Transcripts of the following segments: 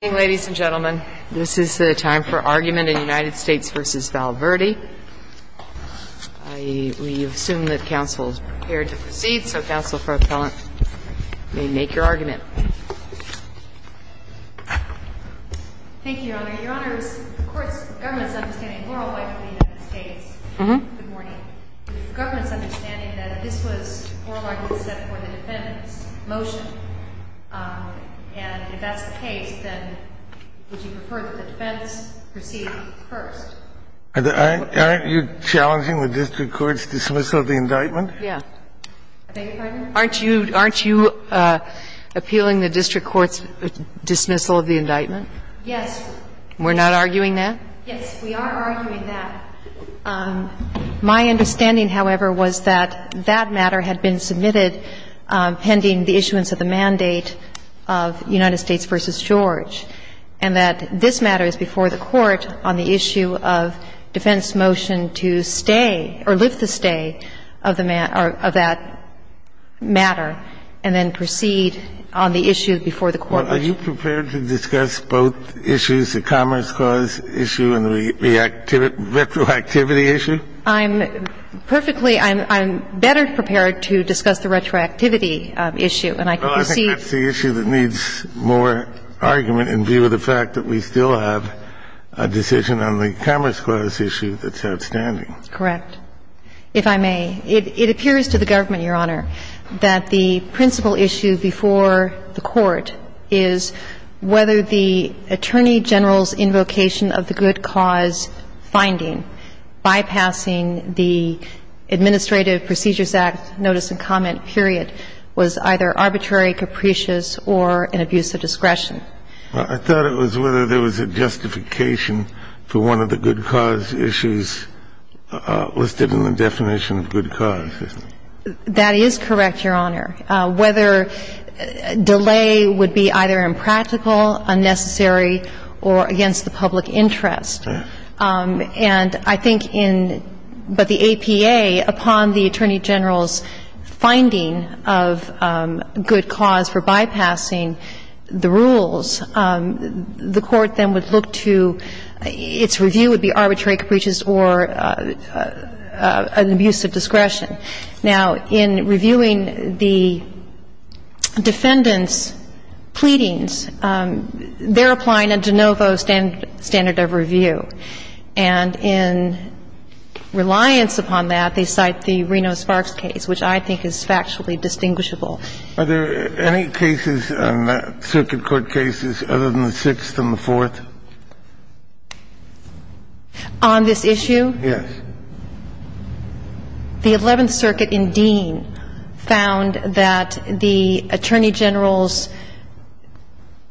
Good morning, ladies and gentlemen. This is the time for argument in United States v. Valverde. We assume that counsel is prepared to proceed, so counsel for appellant may make your argument. Thank you, Your Honor. Your Honor, of course, the government is understanding the moral life of the United States. Good morning. The government is understanding that this was a moral argument set for the defendant's motion. And if that's the case, then would you prefer that the defense proceed first? Aren't you challenging the district court's dismissal of the indictment? Yeah. I beg your pardon? Aren't you appealing the district court's dismissal of the indictment? Yes. We're not arguing that? Yes, we are arguing that. My understanding, however, was that that matter had been submitted pending the issuance of the mandate of United States v. George, and that this matter is before the Court on the issue of defense's motion to stay or lift the stay of that matter and then proceed on the issue before the Court. Are you prepared to discuss both issues, the Commerce Clause issue and the retroactivity issue? I'm perfectly – I'm better prepared to discuss the retroactivity issue, and I can proceed. Well, I think that's the issue that needs more argument in view of the fact that we still have a decision on the Commerce Clause issue that's outstanding. Correct. If I may, it appears to the government, Your Honor, that the principal issue before the Court is whether the Attorney General's invocation of the good cause finding bypassing the Administrative Procedures Act notice and comment period was either arbitrary, capricious, or an abuse of discretion. I thought it was whether there was a justification for one of the good cause issues listed in the definition of good cause. That is correct, Your Honor. Whether delay would be either impractical, unnecessary, or against the public interest. And I think in – but the APA, upon the Attorney General's finding of good cause for bypassing the rules, the Court then would look to – its review would be arbitrary, capricious, or an abuse of discretion. Now, in reviewing the defendant's pleadings, they're applying a de novo standard of review. And in reliance upon that, they cite the Reno-Sparks case, which I think is factually distinguishable. Are there any cases, circuit court cases, other than the Sixth and the Fourth? On this issue? Yes. The Eleventh Circuit in Dean found that the Attorney General's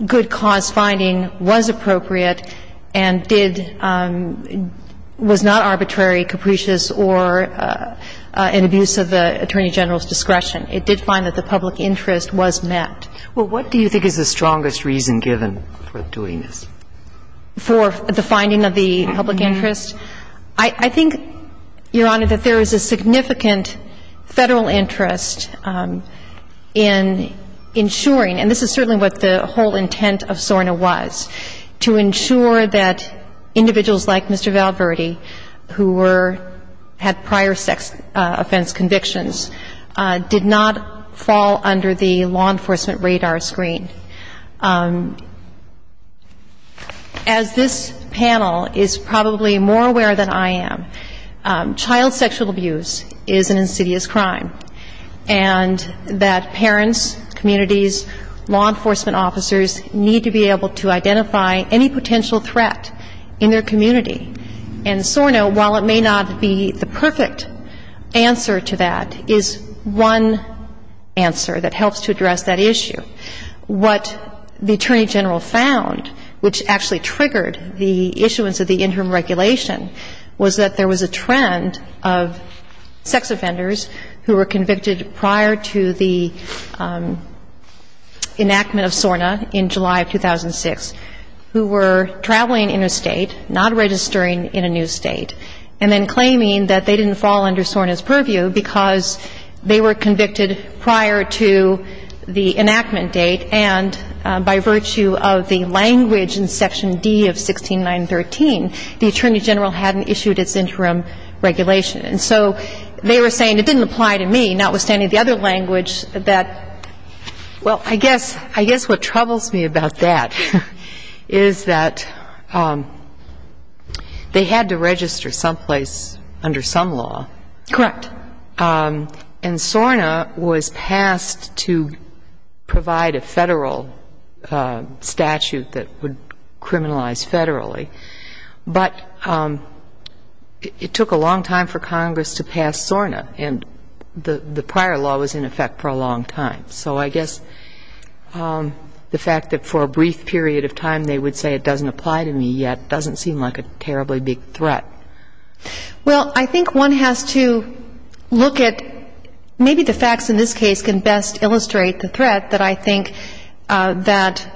good cause finding was appropriate and did – was not arbitrary, capricious, or an abuse of the Attorney General's discretion. It did find that the public interest was met. Well, what do you think is the strongest reason given for doing this? For the finding of the public interest? I think, Your Honor, that there is a significant Federal interest in ensuring – and this is certainly what the whole intent of SORNA was – to ensure that individuals like Mr. Valverde, who were – had prior sex offense convictions, did not fall under the law enforcement radar screen. As this panel is probably more aware than I am, child sexual abuse is an insidious crime, and that parents, communities, law enforcement officers need to be able to identify any potential threat in their community. And SORNA, while it may not be the perfect answer to that, is one answer that helps to address that issue. What the Attorney General found, which actually triggered the issuance of the interim regulation, was that there was a trend of sex offenders who were convicted prior to the enactment of SORNA in July of 2006 who were traveling interstate, not registered in a new state, and then claiming that they didn't fall under SORNA's purview because they were convicted prior to the enactment date, and by virtue of the language in Section D of 16913, the Attorney General hadn't issued its interim regulation. And so they were saying, it didn't apply to me, notwithstanding the other language that, well, I guess what troubles me about that is that they had to register someplace under some law. Correct. And SORNA was passed to provide a Federal statute that would criminalize Federally, but it took a long time for Congress to pass SORNA, and the prior law was, in effect, for a long time. So I guess the fact that for a brief period of time they would say it doesn't apply to me yet doesn't seem like a terribly big threat. Well, I think one has to look at maybe the facts in this case can best illustrate the threat that I think that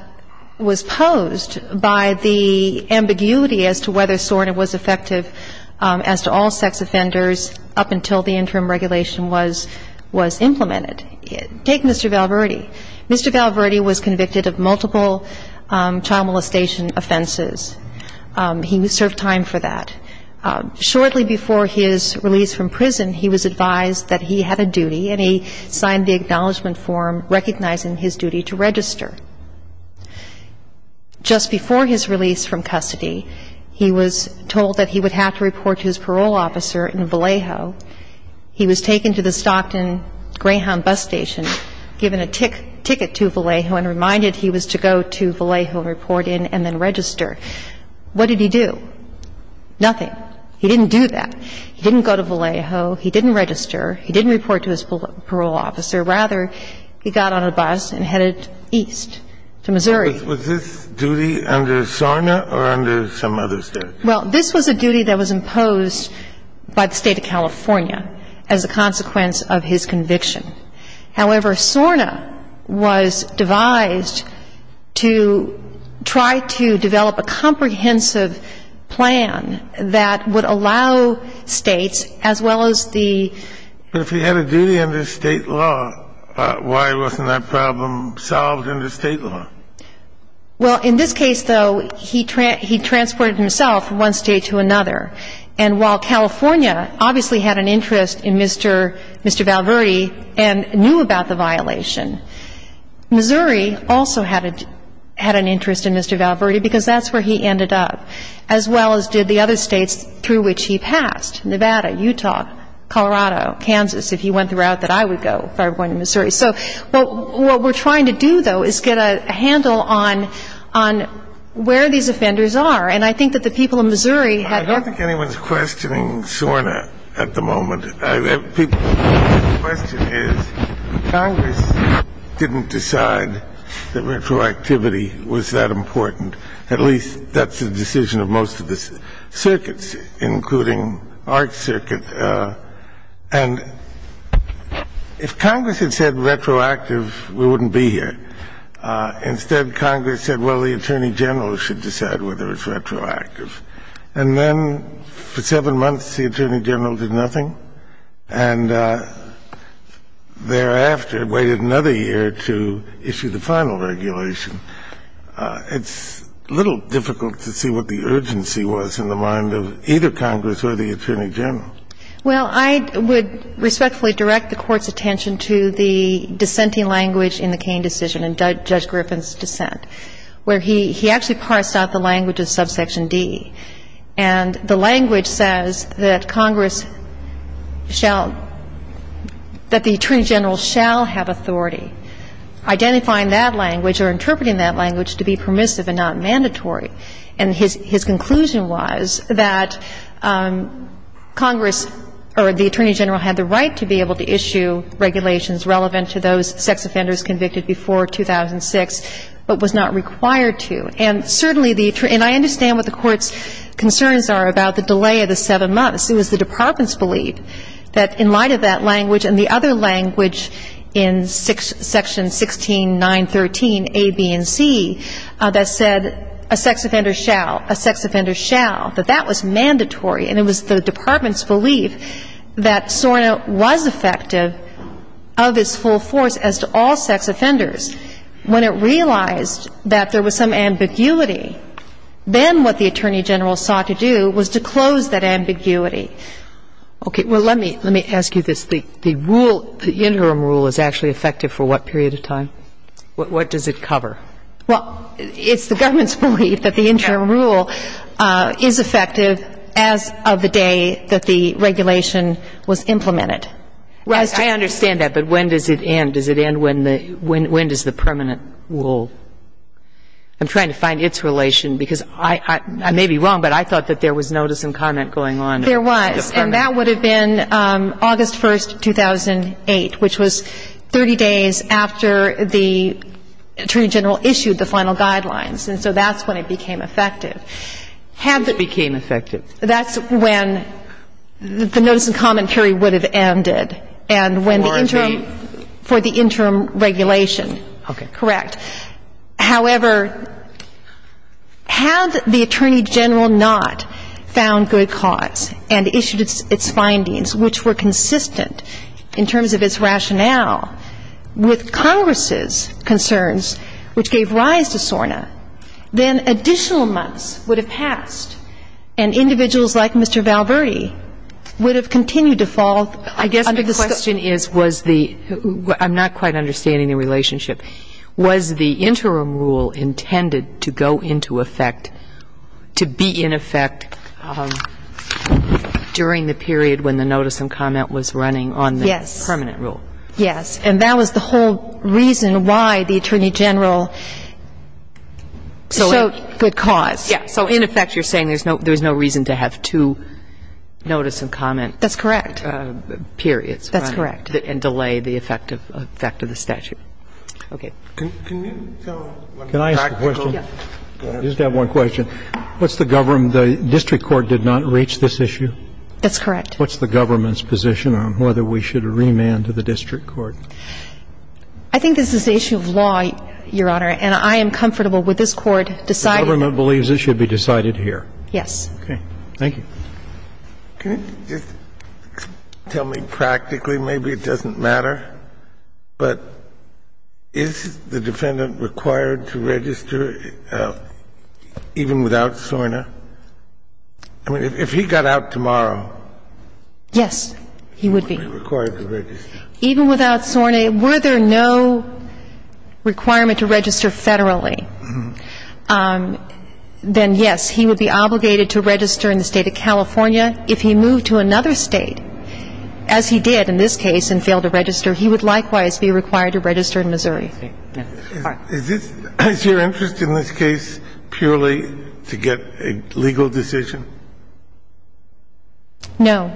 was posed by the ambiguity as to whether SORNA was effective as to all sex offenders up until the interim regulation was implemented. Take Mr. Valverde. Mr. Valverde was convicted of multiple child molestation offenses. He served time for that. Shortly before his release from prison, he was advised that he had a duty, and he signed the acknowledgment form recognizing his duty to register. Just before his release from custody, he was told that he would have to report to his parole officer in Vallejo. He was taken to the Stockton Greyhound bus station, given a ticket to Vallejo, and reminded he was to go to Vallejo and report in and then register. What did he do? Nothing. He didn't do that. He didn't go to Vallejo. He didn't register. He didn't report to his parole officer. Rather, he got on a bus and headed east to Missouri. Was this duty under SORNA or under some other statute? Well, this was a duty that was imposed by the State of California as a consequence of his conviction. However, SORNA was devised to try to develop a comprehensive plan that would allow States, as well as the ---- But if he had a duty under State law, why wasn't that problem solved under State law? Well, in this case, though, he transported himself from one State to another. And while California obviously had an interest in Mr. Valverde and knew about the violation, Missouri also had an interest in Mr. Valverde because that's where he ended up, as well as did the other States through which he passed, Nevada, Utah, Colorado, Kansas, if he went the route that I would go if I were going to Missouri. So what we're trying to do, though, is get a handle on where these offenders are. And I think that the people of Missouri had ---- I don't think anyone's questioning SORNA at the moment. The question is Congress didn't decide that retroactivity was that important. At least that's the decision of most of the circuits, including our circuit. And if Congress had said retroactive, we wouldn't be here. Instead, Congress said, well, the attorney general should decide whether it's retroactive. And then for seven months, the attorney general did nothing. And thereafter waited another year to issue the final regulation. It's a little difficult to see what the urgency was in the mind of either Congress or the attorney general. Well, I would respectfully direct the Court's attention to the dissenting language in the Kaine decision, in Judge Griffin's dissent, where he actually parsed out the language of subsection D. And the language says that Congress shall ---- that the attorney general shall have authority. Identifying that language or interpreting that language to be permissive and not mandatory. And his conclusion was that Congress or the attorney general had the right to be able to issue regulations relevant to those sex offenders convicted before 2006, but was not required to. And certainly the ---- and I understand what the Court's concerns are about the delay of the seven months. It was the department's belief that in light of that language and the other language in section 16, 913a, b, and c, that said a sex offender shall, a sex offender shall, that that was mandatory. And it was the department's belief that SORNA was effective of its full force as to all sex offenders. When it realized that there was some ambiguity, then what the attorney general sought to do was to close that ambiguity. Okay. Well, let me ask you this. The rule, the interim rule is actually effective for what period of time? What does it cover? Well, it's the government's belief that the interim rule is effective as of the day that the regulation was implemented. Right. I understand that. But when does it end? Does it end when the ---- when does the permanent rule? I'm trying to find its relation because I may be wrong, but I thought that there was notice and comment going on. There was. And that would have been August 1, 2008, which was 30 days after the attorney general issued the final guidelines. And so that's when it became effective. Had the ---- It became effective. That's when the notice and comment period would have ended. And when the interim ---- For a date. For the interim regulation. Okay. Correct. However, had the attorney general not found good cause and issued its findings, which were consistent in terms of its rationale, with Congress's concerns, which gave rise to SORNA, then additional months would have passed and individuals like Mr. Valverde would have continued to fall under the scope ---- Was the interim rule intended to go into effect, to be in effect during the period when the notice and comment was running on the permanent rule? Yes. Yes. And that was the whole reason why the attorney general showed good cause. Yes. So in effect, you're saying there's no reason to have two notice and comment periods. That's correct. That's correct. And delay the effect of the statute. Okay. Can you tell a practical ---- Can I ask a question? Go ahead. I just have one question. What's the government ---- the district court did not reach this issue? That's correct. What's the government's position on whether we should remand to the district court? I think this is an issue of law, Your Honor, and I am comfortable with this court deciding ---- The government believes it should be decided here. Yes. Okay. Thank you. Can you just tell me practically? Maybe it doesn't matter, but is the defendant required to register even without SORNA? I mean, if he got out tomorrow ---- Yes, he would be. He would be required to register. Even without SORNA, were there no requirement to register federally, then, yes, he would be obligated to register in the state of California. If he moved to another state, as he did in this case and failed to register, he would likewise be required to register in Missouri. Is your interest in this case purely to get a legal decision? No.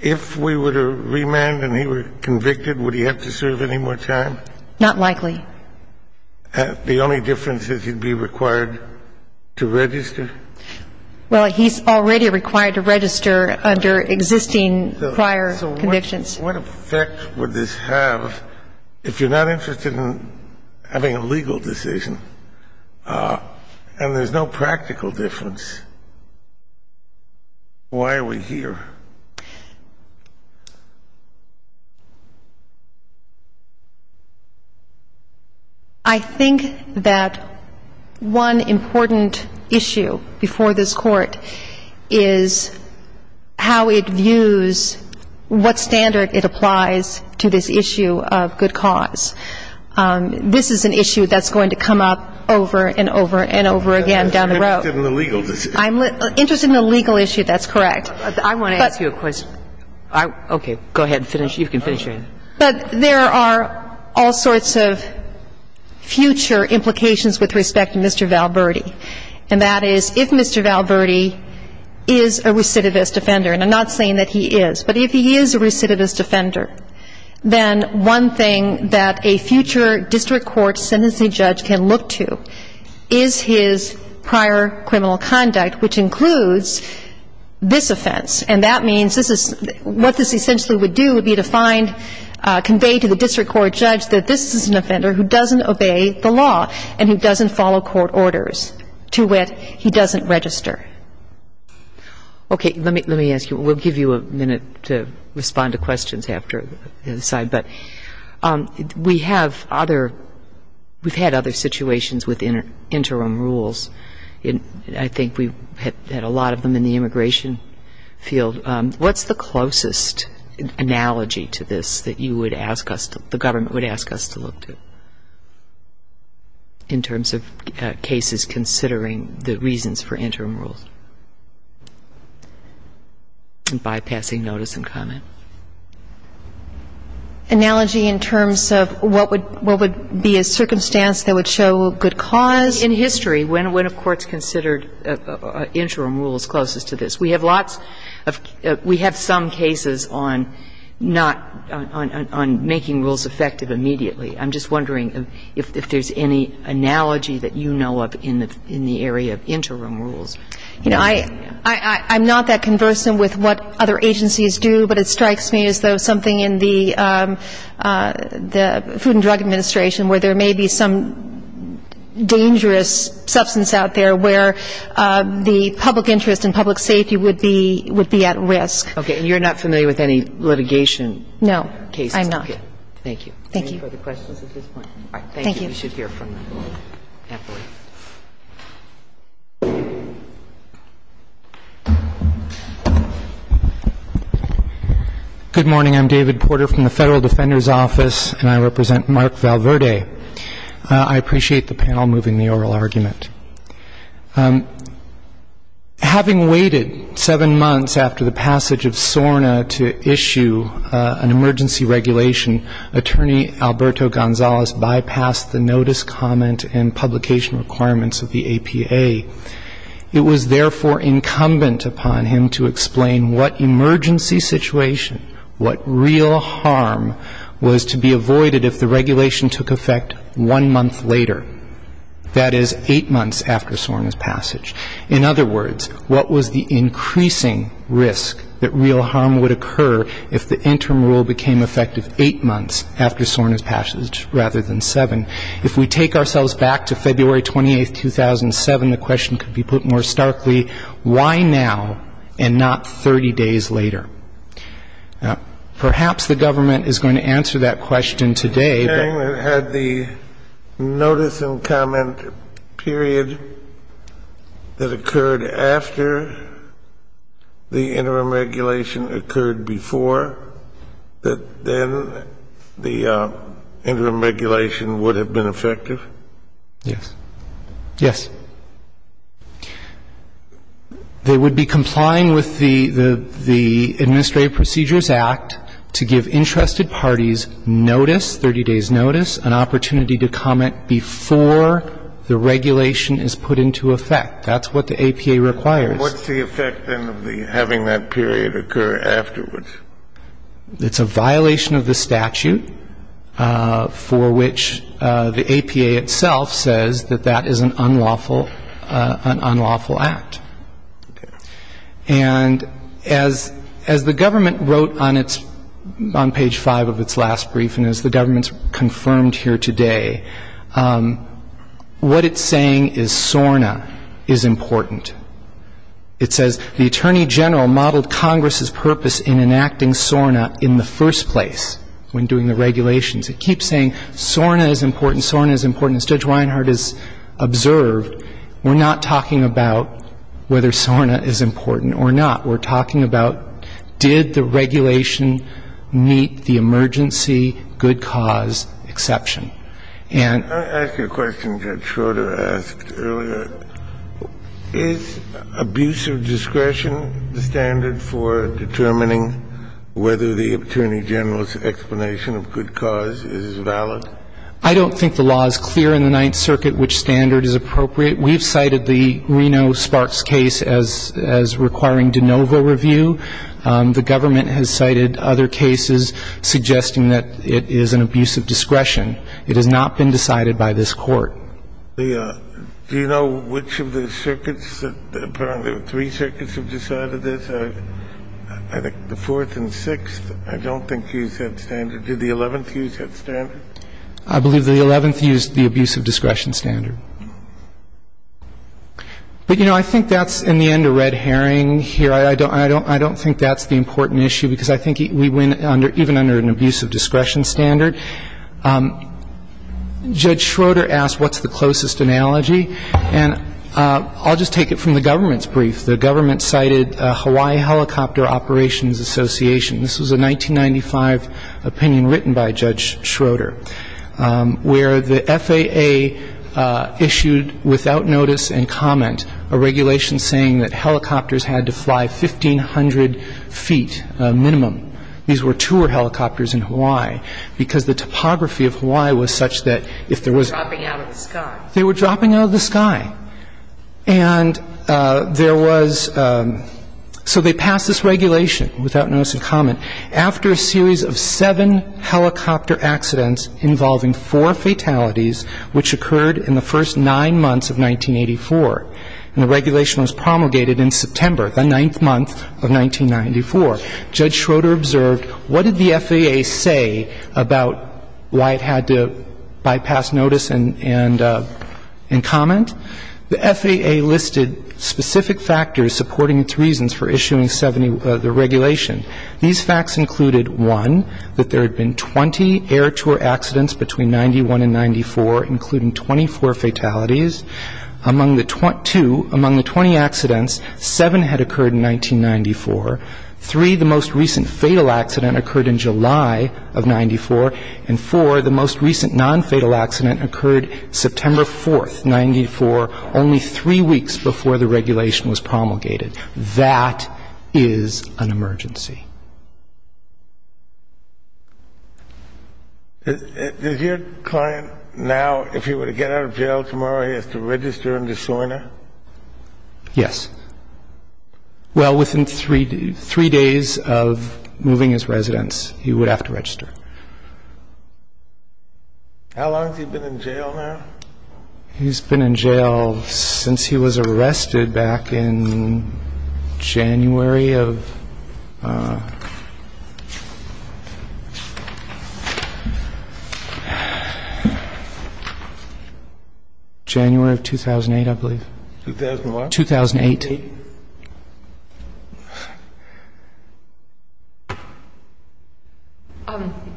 If we were to remand and he were convicted, would he have to serve any more time? Not likely. The only difference is he'd be required to register? Well, he's already required to register under existing prior convictions. So what effect would this have if you're not interested in having a legal decision and there's no practical difference? Why are we here? I think that one important issue before this Court is how it views what standard it applies to this issue of good cause. This is an issue that's going to come up over and over and over again down the road. You're interested in the legal decision. I'm interested in the legal issue. I want to ask you a question. Okay. Go ahead and finish. You can finish your answer. But there are all sorts of future implications with respect to Mr. Valverde. And that is, if Mr. Valverde is a recidivist offender, and I'm not saying that he is, but if he is a recidivist offender, then one thing that a future district court sentencing judge can look to is his prior criminal conduct, which includes this offense. And that means this is what this essentially would do would be to find, convey to the district court judge that this is an offender who doesn't obey the law and who doesn't follow court orders, to which he doesn't register. Okay. Let me ask you. We'll give you a minute to respond to questions after this side. But we have other we've had other situations with interim rules. I think we've had a lot of them in the immigration field. What's the closest analogy to this that you would ask us, the government would ask us to look to in terms of cases considering the reasons for interim rules? Bypassing notice and comment. Analogy in terms of what would be a circumstance that would show good cause? In history, when have courts considered interim rules closest to this? We have lots of we have some cases on not on making rules effective immediately. I'm just wondering if there's any analogy that you know of in the area of interim rules. You know, I'm not that conversant with what other agencies do, but it strikes me as though something in the Food and Drug Administration where there may be some dangerous substance out there where the public interest and public safety would be at risk. Okay. And you're not familiar with any litigation cases? No. I'm not. Okay. Thank you. Thank you. Any further questions at this point? All right. Thank you. Thank you. We should hear from them happily. Good morning. I'm David Porter from the Federal Defender's Office, and I represent Mark Valverde. I appreciate the panel moving the oral argument. Having waited seven months after the passage of SORNA to issue an emergency regulation, Attorney Alberto Gonzalez bypassed the notice, comment, and publication requirements of the APA. It was therefore incumbent upon him to explain what emergency situation, what real harm, was to be avoided if the regulation took effect one month later, that is, eight months after SORNA's passage. In other words, what was the increasing risk that real harm would occur if the interim rule became effective eight months after SORNA's passage rather than seven? If we take ourselves back to February 28, 2007, the question could be put more starkly, why now and not 30 days later? Perhaps the government is going to answer that question today, but — You're saying that had the notice and comment period that occurred after the interim regulation occurred before, that then the interim regulation would have been effective? Yes. Yes. They would be complying with the Administrative Procedures Act to give interested parties notice, 30 days' notice, an opportunity to comment before the regulation is put into effect. That's what the APA requires. And what's the effect, then, of having that period occur afterwards? It's a violation of the statute for which the APA itself says that that is an unlawful act. And as the government wrote on its — on page 5 of its last brief, and as the government's confirmed here today, what it's saying is SORNA is important. It says the Attorney General modeled Congress's purpose in enacting SORNA in the first place when doing the regulations. It keeps saying SORNA is important, SORNA is important. And as Judge Reinhart has observed, we're not talking about whether SORNA is important or not. We're talking about did the regulation meet the emergency good cause exception. And — I ask you a question Judge Schroeder asked earlier. Is abuse of discretion the standard for determining whether the Attorney General's explanation of good cause is valid? I don't think the law is clear in the Ninth Circuit which standard is appropriate. We've cited the Reno-Sparks case as requiring de novo review. The government has cited other cases suggesting that it is an abuse of discretion. It has not been decided by this Court. The — do you know which of the circuits that — three circuits have decided this? I think the Fourth and Sixth, I don't think, use that standard. Did the Eleventh use that standard? I believe the Eleventh used the abuse of discretion standard. But, you know, I think that's, in the end, a red herring here. I don't think that's the important issue because I think we win even under an abuse of discretion standard. Judge Schroeder asked what's the closest analogy. And I'll just take it from the government's brief. The government cited Hawaii Helicopter Operations Association. This was a 1995 opinion written by Judge Schroeder where the FAA issued without notice and comment a regulation saying that helicopters had to fly 1,500 feet minimum. These were tour helicopters in Hawaii because the topography of Hawaii was such that if there was — They were dropping out of the sky. They were dropping out of the sky. And there was — so they passed this regulation without notice and comment. After a series of seven helicopter accidents involving four fatalities, which occurred in the first nine months of 1984, and the regulation was promulgated in September, the ninth month of 1994, Judge Schroeder observed what did the FAA say about why it had to bypass notice and comment? The FAA listed specific factors supporting its reasons for issuing the regulation. These facts included, one, that there had been 20 air tour accidents between 91 and 94, including 24 fatalities. Two, among the 20 accidents, seven had occurred in 1994. Three, the most recent fatal accident occurred in July of 94. And four, the most recent nonfatal accident occurred September 4th, 94, only three weeks before the regulation was promulgated. That is an emergency. Does your client now, if he were to get out of jail tomorrow, he has to register in Desoina? Yes. Well, within three days of moving his residence, he would have to register. How long has he been in jail now? He's been in jail since he was arrested back in January of 2008, I believe. 2001? 2008.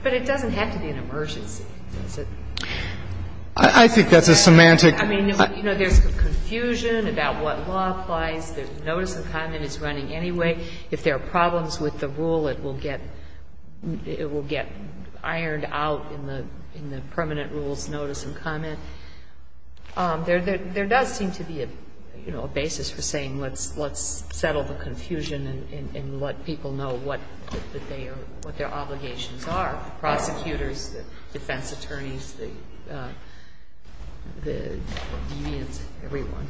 But it doesn't have to be an emergency, does it? I think that's a semantic question. I mean, you know, there's confusion about what law applies, that notice and comment is running anyway. If there are problems with the rule, it will get ironed out in the permanent rules, notice and comment. There does seem to be, you know, a basis for saying let's settle the confusion and let people know what their obligations are, the prosecutors, the defense attorneys, the deviants, everyone.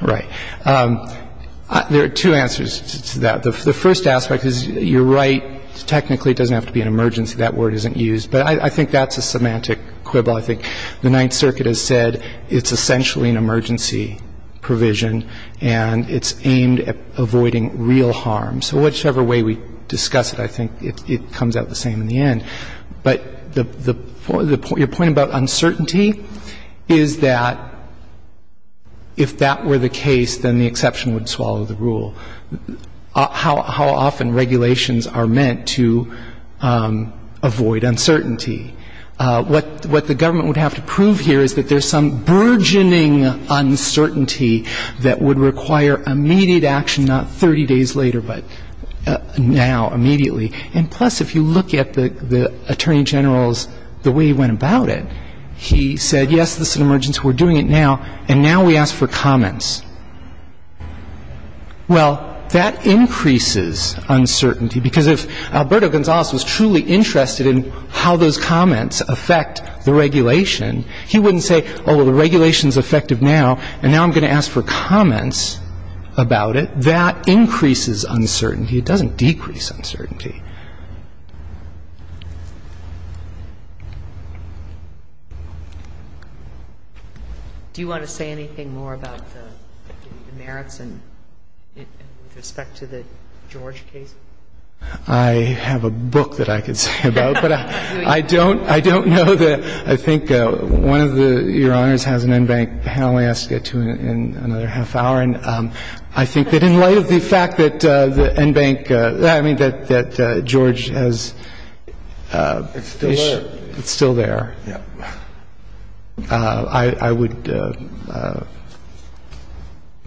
Right. There are two answers to that. The first aspect is, you're right, technically it doesn't have to be an emergency. That word isn't used. But I think that's a semantic quibble. I think the Ninth Circuit has said it's essentially an emergency provision and it's aimed at avoiding real harm. So whichever way we discuss it, I think it comes out the same in the end. But the point about uncertainty is that if that were the case, then the exception would swallow the rule. So how often regulations are meant to avoid uncertainty? What the government would have to prove here is that there's some burgeoning uncertainty that would require immediate action, not 30 days later, but now, immediately. And plus, if you look at the Attorney General's, the way he went about it, he said, yes, this is an emergency, we're doing it now, and now we ask for comments. Well, that increases uncertainty, because if Alberto Gonzales was truly interested in how those comments affect the regulation, he wouldn't say, oh, well, the regulation is effective now, and now I'm going to ask for comments about it. That increases uncertainty. It doesn't decrease uncertainty. Do you want to say anything more about the merits and with respect to the George case? I have a book that I could say about, but I don't know that. I think one of the Your Honors has an NBANC panel he has to get to in another half hour, and I think that in light of the fact that the NBANC, I mean, that the NBANC panel, that George has issued, it's still there, I would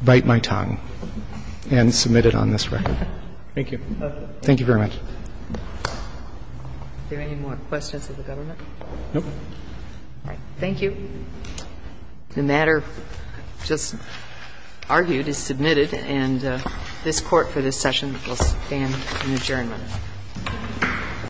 bite my tongue and submit it on this record. Thank you. Thank you very much. Are there any more questions of the government? No. All right. Thank you. The matter just argued is submitted, and this Court for this session will stand in adjournment. Thank you.